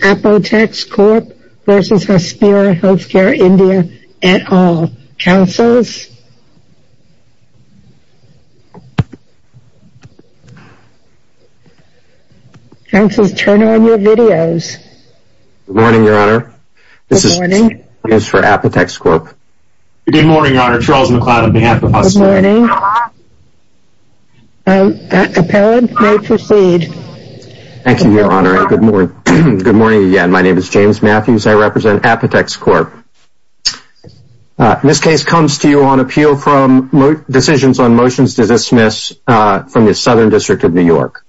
Apotex Corp. v. Hospira Healthcare India Thank you, Your Honor. Good morning again. My name is James Matthews. I represent Apotex Corp. This case comes to you on appeal from decisions on motions to dismiss from the Southern District of New York.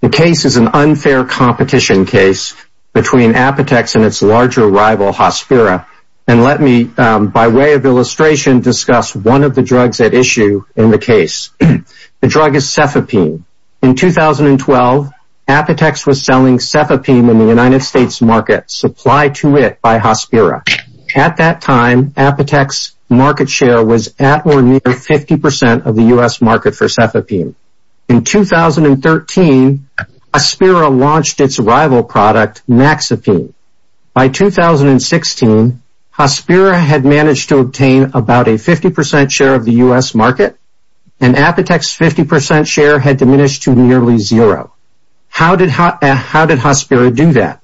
The case is an unfair competition case between Apotex and its larger rival, Hospira. And let me, by way of illustration, discuss one of the drugs at issue in the case. The drug is Cefepime. In 2012, Apotex was selling Cefepime in the United States market, supplied to it by Hospira. At that time, Apotex market share was at or near 50% of the U.S. market for Cefepime. In 2013, Hospira launched its rival product, Maxapine. By 2016, Hospira had managed to obtain about a 50% share of the U.S. market, and Apotex 50% share had diminished to nearly zero. How did Hospira do that?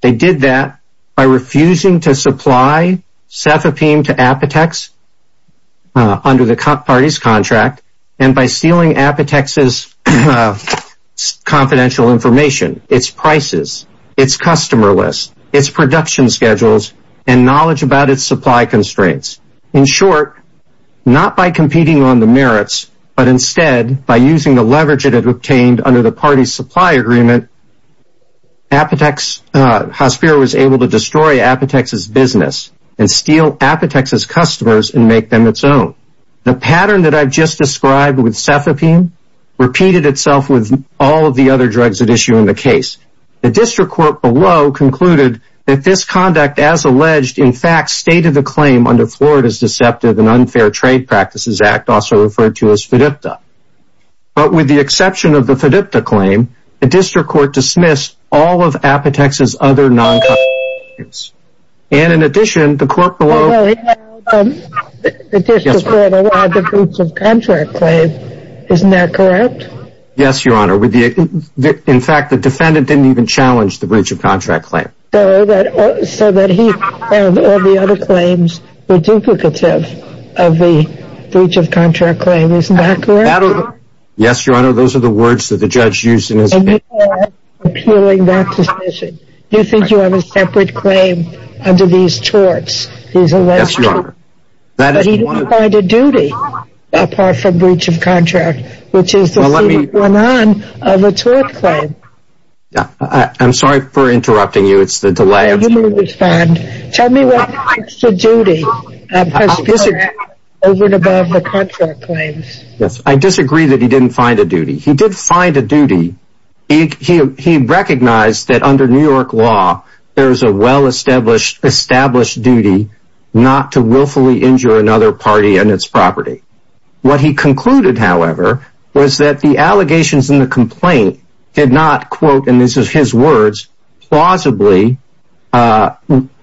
They did that by refusing to supply Cefepime to Apotex under the parties' contract, and by stealing Apotex's confidential information, its prices, its customer list, its production schedules, and knowledge about its supply constraints. In short, not by competing on the merits, but instead by using the leverage it had obtained under the parties' supply agreement, Hospira was able to destroy Apotex's business and steal Apotex's customers and make them its own. The pattern that I've just described with Cefepime repeated itself with all of the other drugs at issue in the case. The district court below concluded that this conduct, as alleged, in fact stated the claim under Florida's Deceptive and Unfair Trade Practices Act, also referred to as FDIPTA. But with the exception of the FDIPTA claim, the district court dismissed all of Apotex's other non-contract claims. And in addition, the court below... The district court allowed the breach of contract claim. Isn't that correct? Yes, Your Honor. In fact, the defendant didn't even challenge the breach of contract claim. So that he and all the other claims were duplicative of the breach of contract claim. Isn't that correct? Yes, Your Honor. Those are the words that the judge used in his... And you are appealing that decision. You think you have a separate claim under these chorts. These alleged chorts. Yes, Your Honor. But he didn't find a duty apart from breach of contract, which is the secret one-on of a tort claim. I'm sorry for interrupting you. It's the delay. You may respond. Tell me what makes a duty. I disagree that he didn't find a duty. He did find a duty. He recognized that under New York law, there is a well-established duty not to willfully injure another party and its property. What he concluded, however, was that the allegations in the complaint did not, quote, and this is his words, plausibly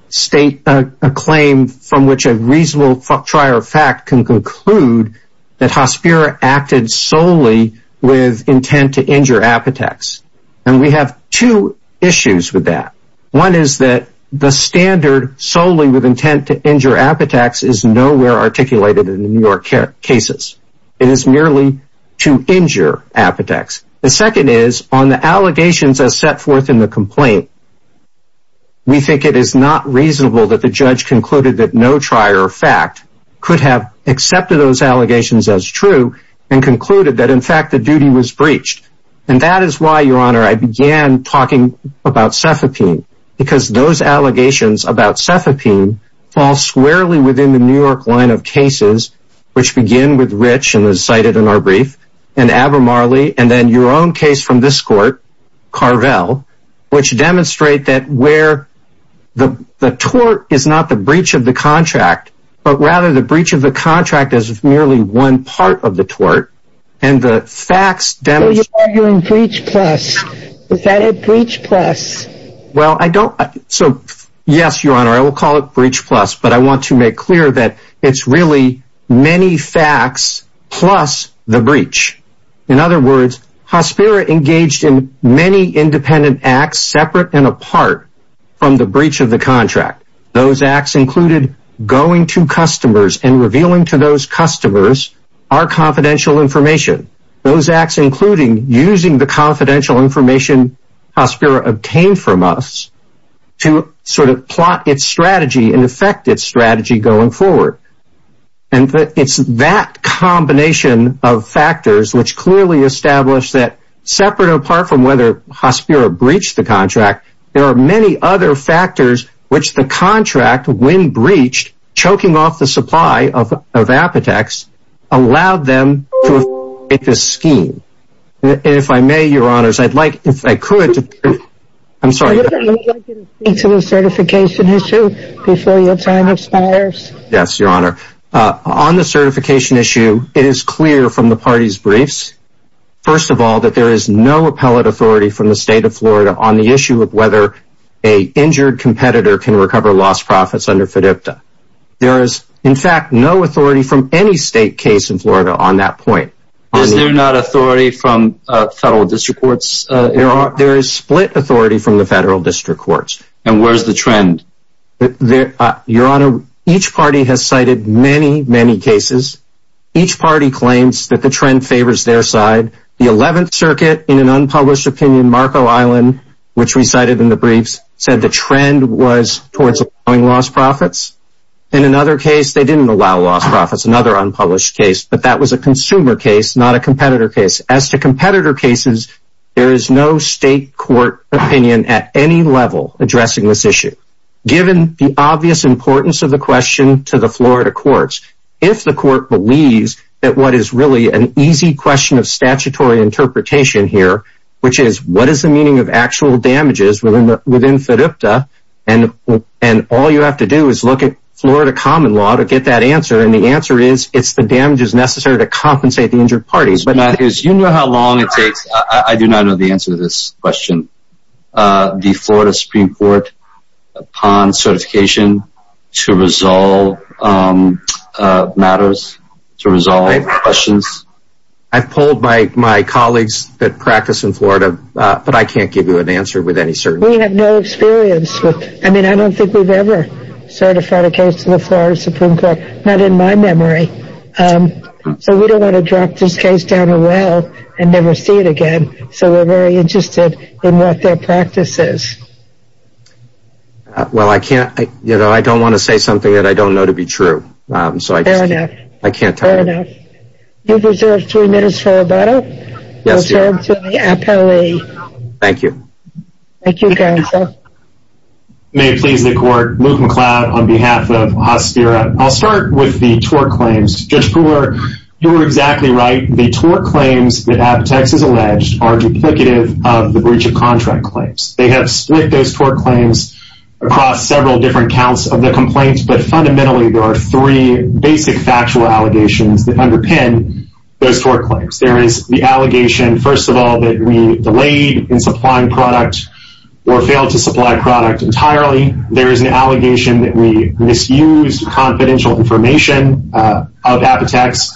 state a claim from which a reasonable trier of fact can conclude that Hospiro acted solely with intent to injure Apotex. And we have two issues with that. One is that the standard solely with intent to injure Apotex is nowhere articulated in the New York cases. It is merely to injure Apotex. The second is, on the allegations as set forth in the complaint, we think it is not reasonable that the judge concluded that no trier of fact could have accepted those allegations as true and concluded that, in fact, the duty was breached. And that is why, Your Honor, I began talking about cefepine, because those allegations about cefepine fall squarely within the New York line of cases, which begin with Rich, as cited in our brief, and Abermarley, and then your own case from this court, Carvel, which demonstrate that where the tort is not the breach of the contract, but rather the breach of the contract is merely one part of the tort, and the facts demonstrate... You're arguing breach plus. Is that a breach plus? Well, I don't... So, yes, Your Honor, I will call it breach plus, but I want to make clear that it's really many facts plus the breach. In other words, Hospiro engaged in many independent acts separate and apart from the breach of the contract. Those acts included going to customers and revealing to those customers our confidential information. Those acts including using the confidential information Hospiro obtained from us to sort of plot its strategy and affect its strategy going forward. And it's that combination of factors which clearly establish that, separate and apart from whether Hospiro breached the contract, there are many other factors which the contract, when breached, choking off the supply of Apotex, allowed them to affect this scheme. And if I may, Your Honors, I'd like, if I could... I'm sorry. Let me get into the certification issue before your time expires. Yes, Your Honor. On the certification issue, it is clear from the party's briefs, first of all, that there is no appellate authority from the state of Florida on the issue of whether an injured competitor can recover lost profits under FDIPTA. There is, in fact, no authority from any state case in Florida on that point. Is there not authority from federal district courts? There is split authority from the federal district courts. And where's the trend? Your Honor, each party has cited many, many cases. Each party claims that the trend favors their side. The 11th Circuit, in an unpublished opinion, Marco Island, which recited in the briefs, said the trend was towards allowing lost profits. In another case, they didn't allow lost profits, another unpublished case, but that was a consumer case, not a competitor case. As to competitor cases, there is no state court opinion at any level addressing this issue, given the obvious importance of the question to the Florida courts. If the court believes that what is really an easy question of statutory interpretation here, which is what is the meaning of actual damages within FDIPTA, and all you have to do is look at Florida common law to get that answer, and the answer is it's the damages necessary to compensate the injured parties. You know how long it takes. I do not know the answer to this question. The Florida Supreme Court, upon certification, to resolve matters, to resolve questions. I've polled my colleagues that practice in Florida, but I can't give you an answer with any certainty. We have no experience. I mean, I don't think we've ever certified a case to the Florida Supreme Court. Not in my memory. So we don't want to drop this case down a well and never see it again. So we're very interested in what their practice is. Well, I can't, you know, I don't want to say something that I don't know to be true. Fair enough. I can't tell you. Fair enough. You've reserved three minutes for rebuttal. Yes, Your Honor. You'll turn to the appellee. Thank you. Thank you, counsel. May it please the court, Luke McLeod on behalf of Hospira. I'll start with the tort claims. Judge Brewer, you were exactly right. The tort claims that Appetex has alleged are duplicative of the breach of contract claims. They have split those tort claims across several different counts of the complaints, but fundamentally there are three basic factual allegations that underpin those tort claims. There is the allegation, first of all, that we delayed in supplying product or failed to supply product entirely. Secondly, there is an allegation that we misused confidential information of Appetex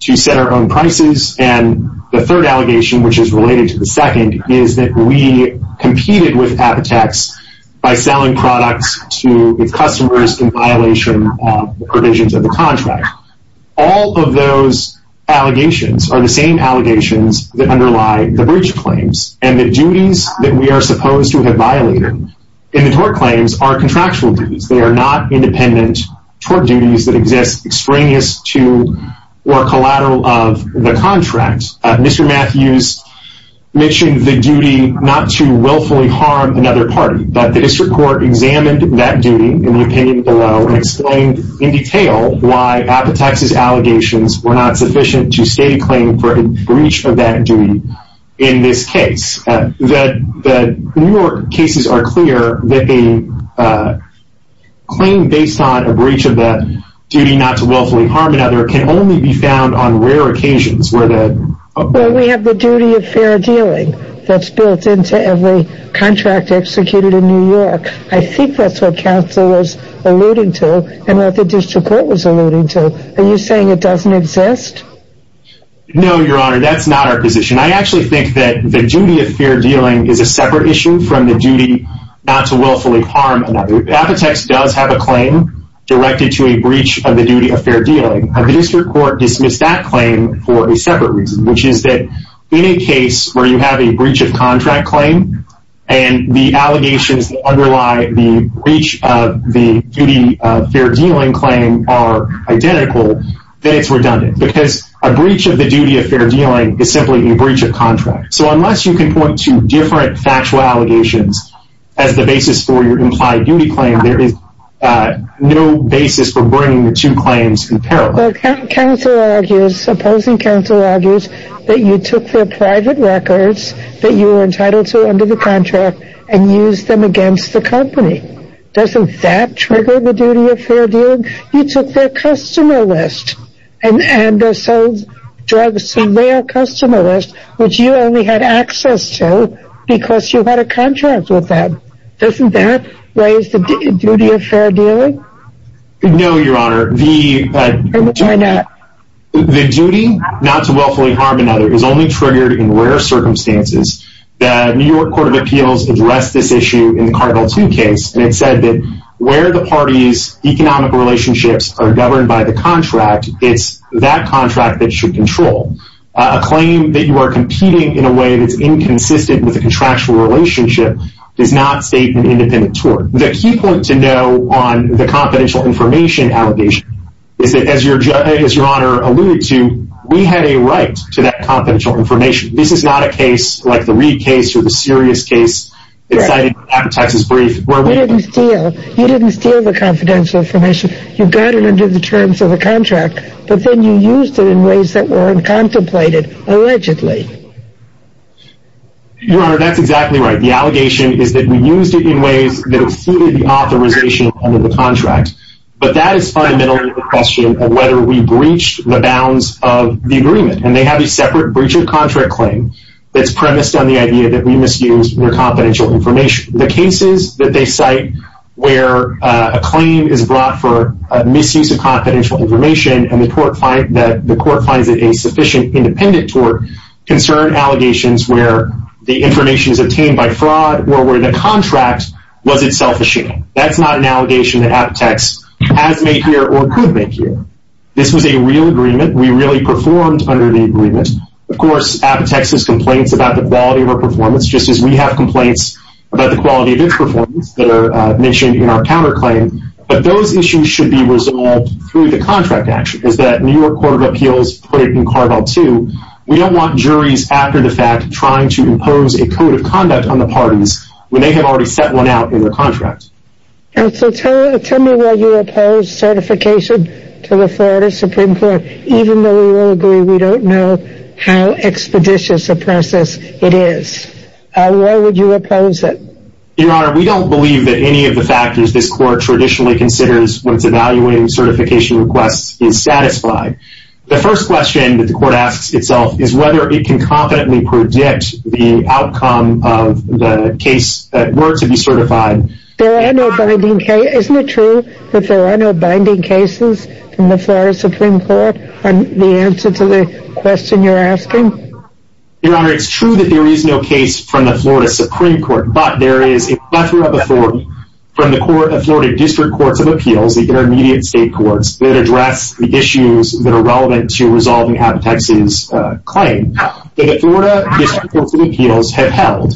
to set our own prices. And the third allegation, which is related to the second, is that we competed with Appetex by selling products to its customers in violation of the provisions of the contract. All of those allegations are the same allegations that underlie the breach claims and the duties that we are supposed to have violated. And the tort claims are contractual duties. They are not independent tort duties that exist extraneous to or collateral of the contract. Mr. Matthews mentioned the duty not to willfully harm another party, but the district court examined that duty in the opinion below and explained in detail why Appetex's allegations were not sufficient to state a claim for a breach of that duty in this case. The New York cases are clear that a claim based on a breach of that duty not to willfully harm another can only be found on rare occasions. Well, we have the duty of fair dealing that's built into every contract executed in New York. I think that's what counsel was alluding to and what the district court was alluding to. Are you saying it doesn't exist? No, Your Honor, that's not our position. I actually think that the duty of fair dealing is a separate issue from the duty not to willfully harm another. Appetex does have a claim directed to a breach of the duty of fair dealing. The district court dismissed that claim for a separate reason, which is that in a case where you have a breach of contract claim and the allegations that underlie the breach of the duty of fair dealing claim are identical, then it's redundant because a breach of the duty of fair dealing is simply a breach of contract. So unless you can point to different factual allegations as the basis for your implied duty claim, there is no basis for bringing the two claims in parallel. Counsel argues, opposing counsel argues, that you took their private records that you were entitled to under the contract and used them against the company. Doesn't that trigger the duty of fair dealing? You took their customer list and sold drugs to their customer list, which you only had access to because you had a contract with them. Doesn't that raise the duty of fair dealing? No, Your Honor. Then why not? The duty not to willfully harm another is only triggered in rare circumstances. The New York Court of Appeals addressed this issue in the Cargill 2 case and it said that where the parties' economic relationships are governed by the contract, it's that contract that should control. A claim that you are competing in a way that's inconsistent with the contractual relationship does not state an independent tort. The key point to know on the confidential information allegation is that, as Your Honor alluded to, we had a right to that confidential information. This is not a case like the Reid case or the Sirius case that's cited in the Texas brief. You didn't steal the confidential information. You got it under the terms of the contract, but then you used it in ways that weren't contemplated, allegedly. Your Honor, that's exactly right. The allegation is that we used it in ways that exceeded the authorization under the contract. But that is fundamentally the question of whether we breached the bounds of the agreement. And they have a separate breach of contract claim that's premised on the idea that we misused your confidential information. The cases that they cite where a claim is brought for a misuse of confidential information and the court finds it a sufficient independent tort concern allegations where the information is obtained by fraud or where the contract was itself a shame. That's not an allegation that aptX has made here or could make here. This was a real agreement. We really performed under the agreement. Of course, aptX has complaints about the quality of our performance just as we have complaints about the quality of its performance that are mentioned in our counterclaim. But those issues should be resolved through the contract action, as the New York Court of Appeals put it in Carvel 2. We don't want juries after the fact trying to impose a code of conduct on the parties when they have already set one out in their contract. Counsel, tell me why you oppose certification to the Florida Supreme Court even though we all agree we don't know how expeditious a process it is. Why would you oppose it? Your Honor, we don't believe that any of the factors this court traditionally considers when it's evaluating certification requests is satisfied. The first question that the court asks itself is whether it can confidently predict the outcome of the case that were to be certified There are no binding cases. Isn't it true that there are no binding cases from the Florida Supreme Court on the answer to the question you're asking? Your Honor, it's true that there is no case from the Florida Supreme Court, but there is a plethora of authority from the Florida District Courts of Appeals, the intermediate state courts that address the issues that are relevant to resolving aptX's claim. The Florida District Courts of Appeals have held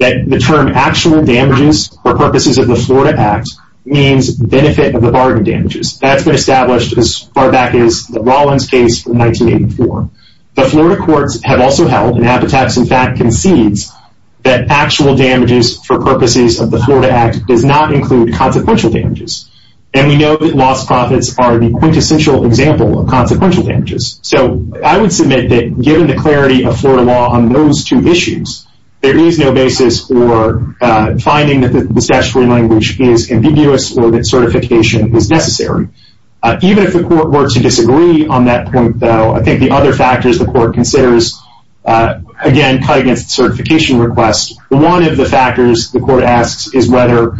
that the term actual damages for purposes of the Florida Act means benefit of the bargain damages. That's been established as far back as the Rollins case from 1984. The Florida courts have also held, and aptX in fact concedes, that actual damages for purposes of the Florida Act does not include consequential damages. And we know that lost profits are the quintessential example of consequential damages. So I would submit that given the clarity of Florida law on those two issues, there is no basis for finding that the statutory language is ambiguous or that certification is necessary. Even if the court were to disagree on that point, though, I think the other factors the court considers, again, cut against certification requests. One of the factors the court asks is whether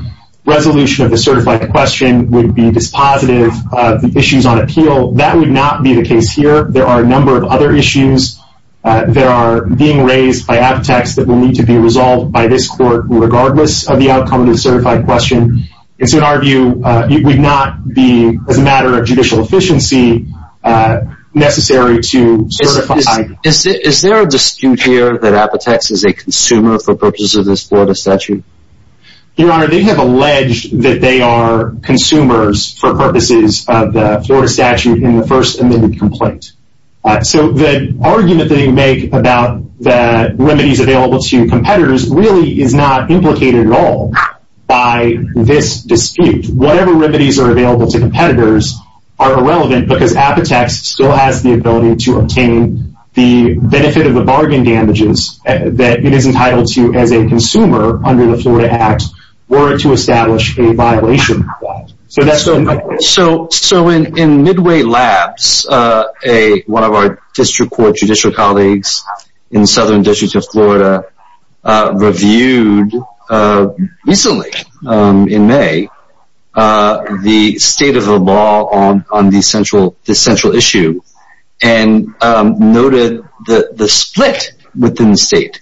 resolution of the certified question would be dispositive of the issues on appeal. That would not be the case here. There are a number of other issues. There are being raised by aptX that will need to be resolved by this court regardless of the outcome of the certified question. And so in our view, it would not be, as a matter of judicial efficiency, necessary to certify. Is there a dispute here that aptX is a consumer for purposes of this Florida statute? Your Honor, they have alleged that they are consumers for purposes of the Florida statute in the first amended complaint. So the argument they make about the remedies available to competitors really is not implicated at all by this dispute. Whatever remedies are available to competitors are irrelevant because aptX still has the ability to obtain the benefit of the bargain damages that it is entitled to as a consumer under the Florida Act or to establish a violation. So in Midway Labs, one of our district court judicial colleagues in the southern districts of Florida reviewed recently in May the state of the law on this central issue and noted the split within the state.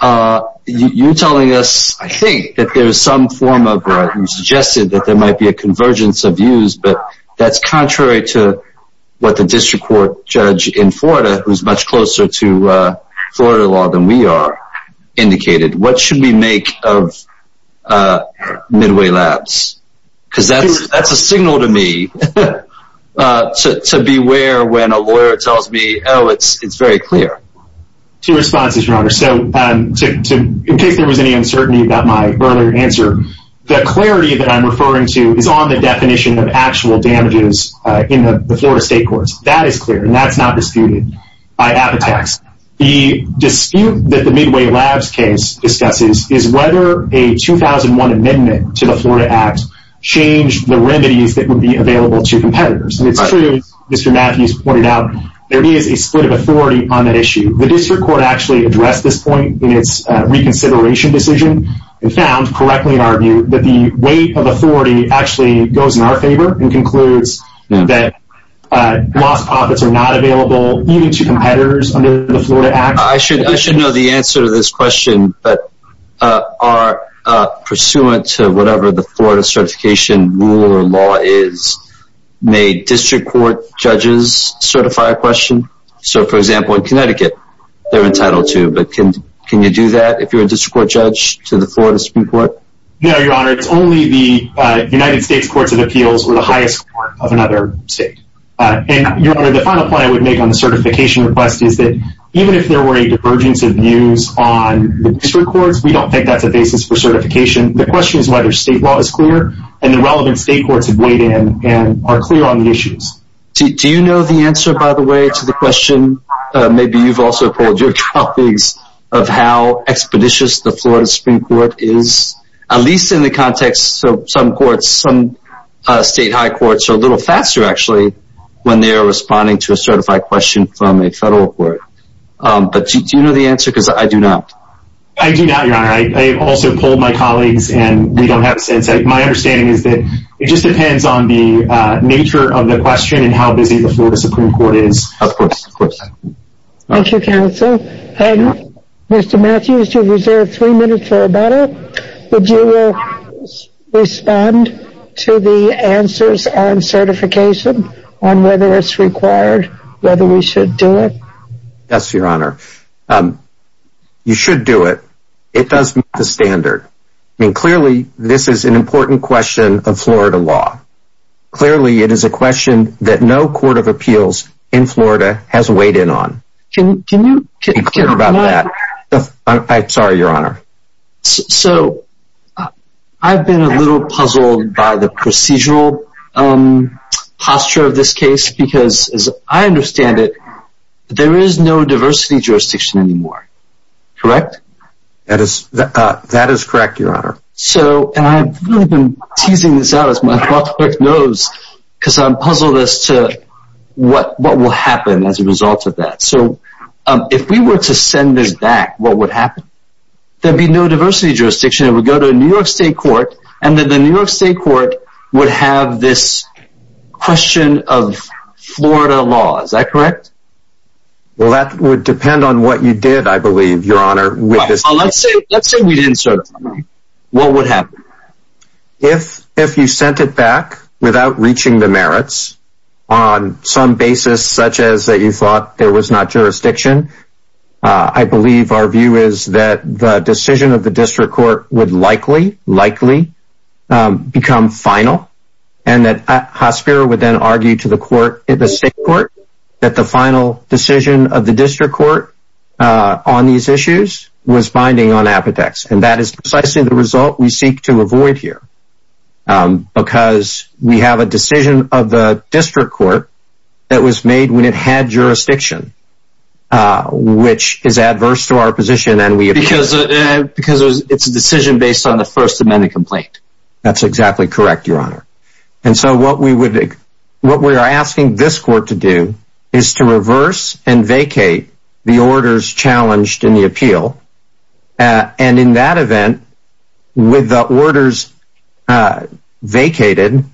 You're telling us, I think, that there's some form of, you suggested that there might be a convergence of views, but that's contrary to what the district court judge in Florida, who's much closer to Florida law than we are, indicated. What should we make of Midway Labs? Because that's a signal to me to beware when a lawyer tells me, oh, it's very clear. Two responses, Your Honor. So in case there was any uncertainty about my earlier answer, the clarity that I'm referring to is on the definition of actual damages in the Florida state courts. That is clear, and that's not disputed by aptX. The dispute that the Midway Labs case discusses is whether a 2001 amendment to the Florida Act changed the remedies that would be available to competitors. It's true, as Mr. Matthews pointed out, there is a split of authority on that issue. The district court actually addressed this point in its reconsideration decision and found, correctly in our view, that the weight of authority actually goes in our favor and concludes that lost profits are not available even to competitors under the Florida Act. I should know the answer to this question, but are pursuant to whatever the Florida certification rule or law is, may district court judges certify a question? So, for example, in Connecticut, they're entitled to, but can you do that if you're a district court judge to the Florida Supreme Court? No, Your Honor. It's only the United States Courts of Appeals or the highest court of another state. And, Your Honor, the final point I would make on the certification request is that even if there were a divergence of views on the district courts, we don't think that's a basis for certification. The question is whether state law is clear and the relevant state courts have weighed in and are clear on the issues. Do you know the answer, by the way, to the question? Maybe you've also told your colleagues of how expeditious the Florida Supreme Court is, at least in the context of some courts. Some state high courts are a little faster, actually, when they are responding to a certified question from a federal court. But do you know the answer? Because I do not. I do not, Your Honor. I also told my colleagues, and we don't have a sense. My understanding is that it just depends on the nature of the question and how busy the Florida Supreme Court is. Of course. Of course. Thank you, counsel. And Mr. Matthews, you have reserved three minutes for a minute. Your Honor, would you respond to the answers on certification, on whether it's required, whether we should do it? Yes, Your Honor. You should do it. It does meet the standard. I mean, clearly, this is an important question of Florida law. Clearly, it is a question that no court of appeals in Florida has weighed in on. Can you be clear about that? I'm sorry, Your Honor. So, I've been a little puzzled by the procedural posture of this case because, as I understand it, there is no diversity jurisdiction anymore. Correct? That is correct, Your Honor. So, and I've really been teasing this out as my public knows because I'm puzzled as to what will happen as a result of that. So, if we were to send this back, what would happen? There would be no diversity jurisdiction. It would go to a New York State court, and then the New York State court would have this question of Florida law. Is that correct? Well, that would depend on what you did, I believe, Your Honor, with this case. Let's say we didn't start it. What would happen? If you sent it back without reaching the merits, on some basis such as that you thought there was not jurisdiction, I believe our view is that the decision of the district court would likely, likely become final and that Hospiro would then argue to the state court that the final decision of the district court on these issues was binding on Apodex, and that is precisely the result we seek to avoid here because we have a decision of the district court that was made when it had jurisdiction, which is adverse to our position. Because it's a decision based on the First Amendment complaint. That's exactly correct, Your Honor. And so what we are asking this court to do is to reverse and vacate the orders challenged in the appeal, and in that event, with the orders vacated,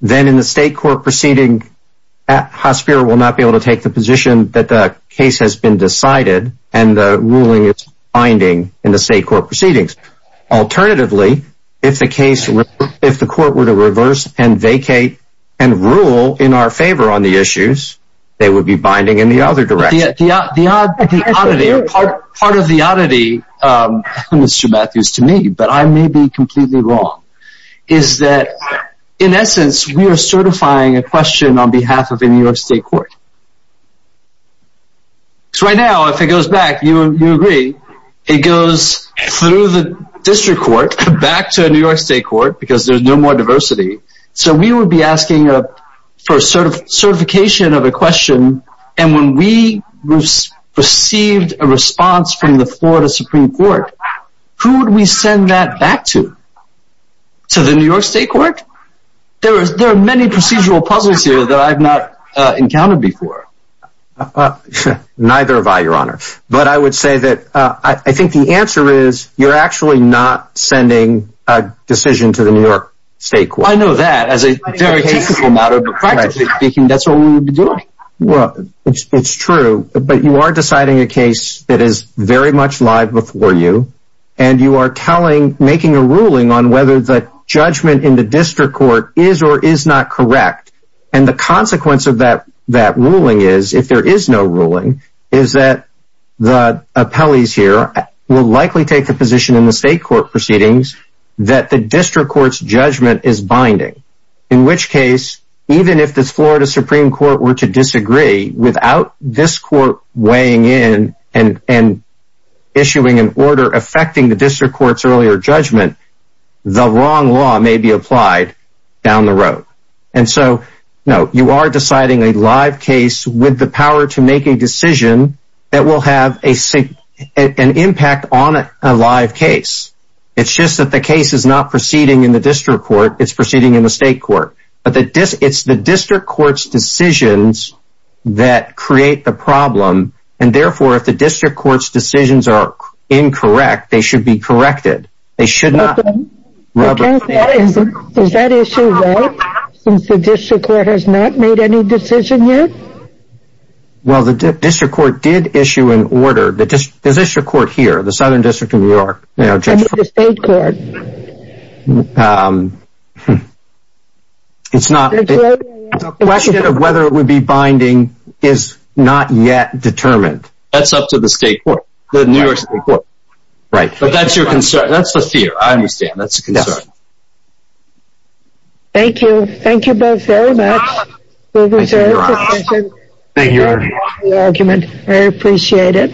then in the state court proceeding, Hospiro will not be able to take the position that the case has been decided and the ruling is binding in the state court proceedings. Alternatively, if the court were to reverse and vacate and rule in our favor on the issues, they would be binding in the other direction. Part of the oddity, Mr. Matthews, to me, but I may be completely wrong, is that, in essence, we are certifying a question on behalf of a New York state court. So right now, if it goes back, you agree, it goes through the district court back to a New York state court because there's no more diversity, so we would be asking for certification of a question and when we received a response from the Florida Supreme Court, who would we send that back to? To the New York state court? There are many procedural puzzles here that I've not encountered before. Neither have I, Your Honor, but I would say that I think the answer is you're actually not sending a decision to the New York state court. I know that as a very typical matter, but practically speaking, that's what we would be doing. Well, it's true, but you are deciding a case that is very much live before you and you are making a ruling on whether the judgment in the district court is or is not correct and the consequence of that ruling is, if there is no ruling, is that the appellees here will likely take the position in the state court proceedings that the district court's judgment is binding, in which case, even if the Florida Supreme Court were to disagree, without this court weighing in and issuing an order affecting the district court's earlier judgment, the wrong law may be applied down the road. And so, no, you are deciding a live case with the power to make a decision that will have an impact on a live case. It's just that the case is not proceeding in the district court, it's proceeding in the state court. But it's the district court's decisions that create the problem and, therefore, if the district court's decisions are incorrect, they should be corrected. They should not... Is that issue right? Since the district court has not made any decision yet? Well, the district court did issue an order. The district court here, the Southern District of New York... It's up to the state court. It's not... The question of whether it would be binding is not yet determined. That's up to the state court, the New York state court. Right. But that's your concern. That's the fear. I understand. That's the concern. Thank you. Thank you both very much. I think you're awesome. Thank you. I appreciate it.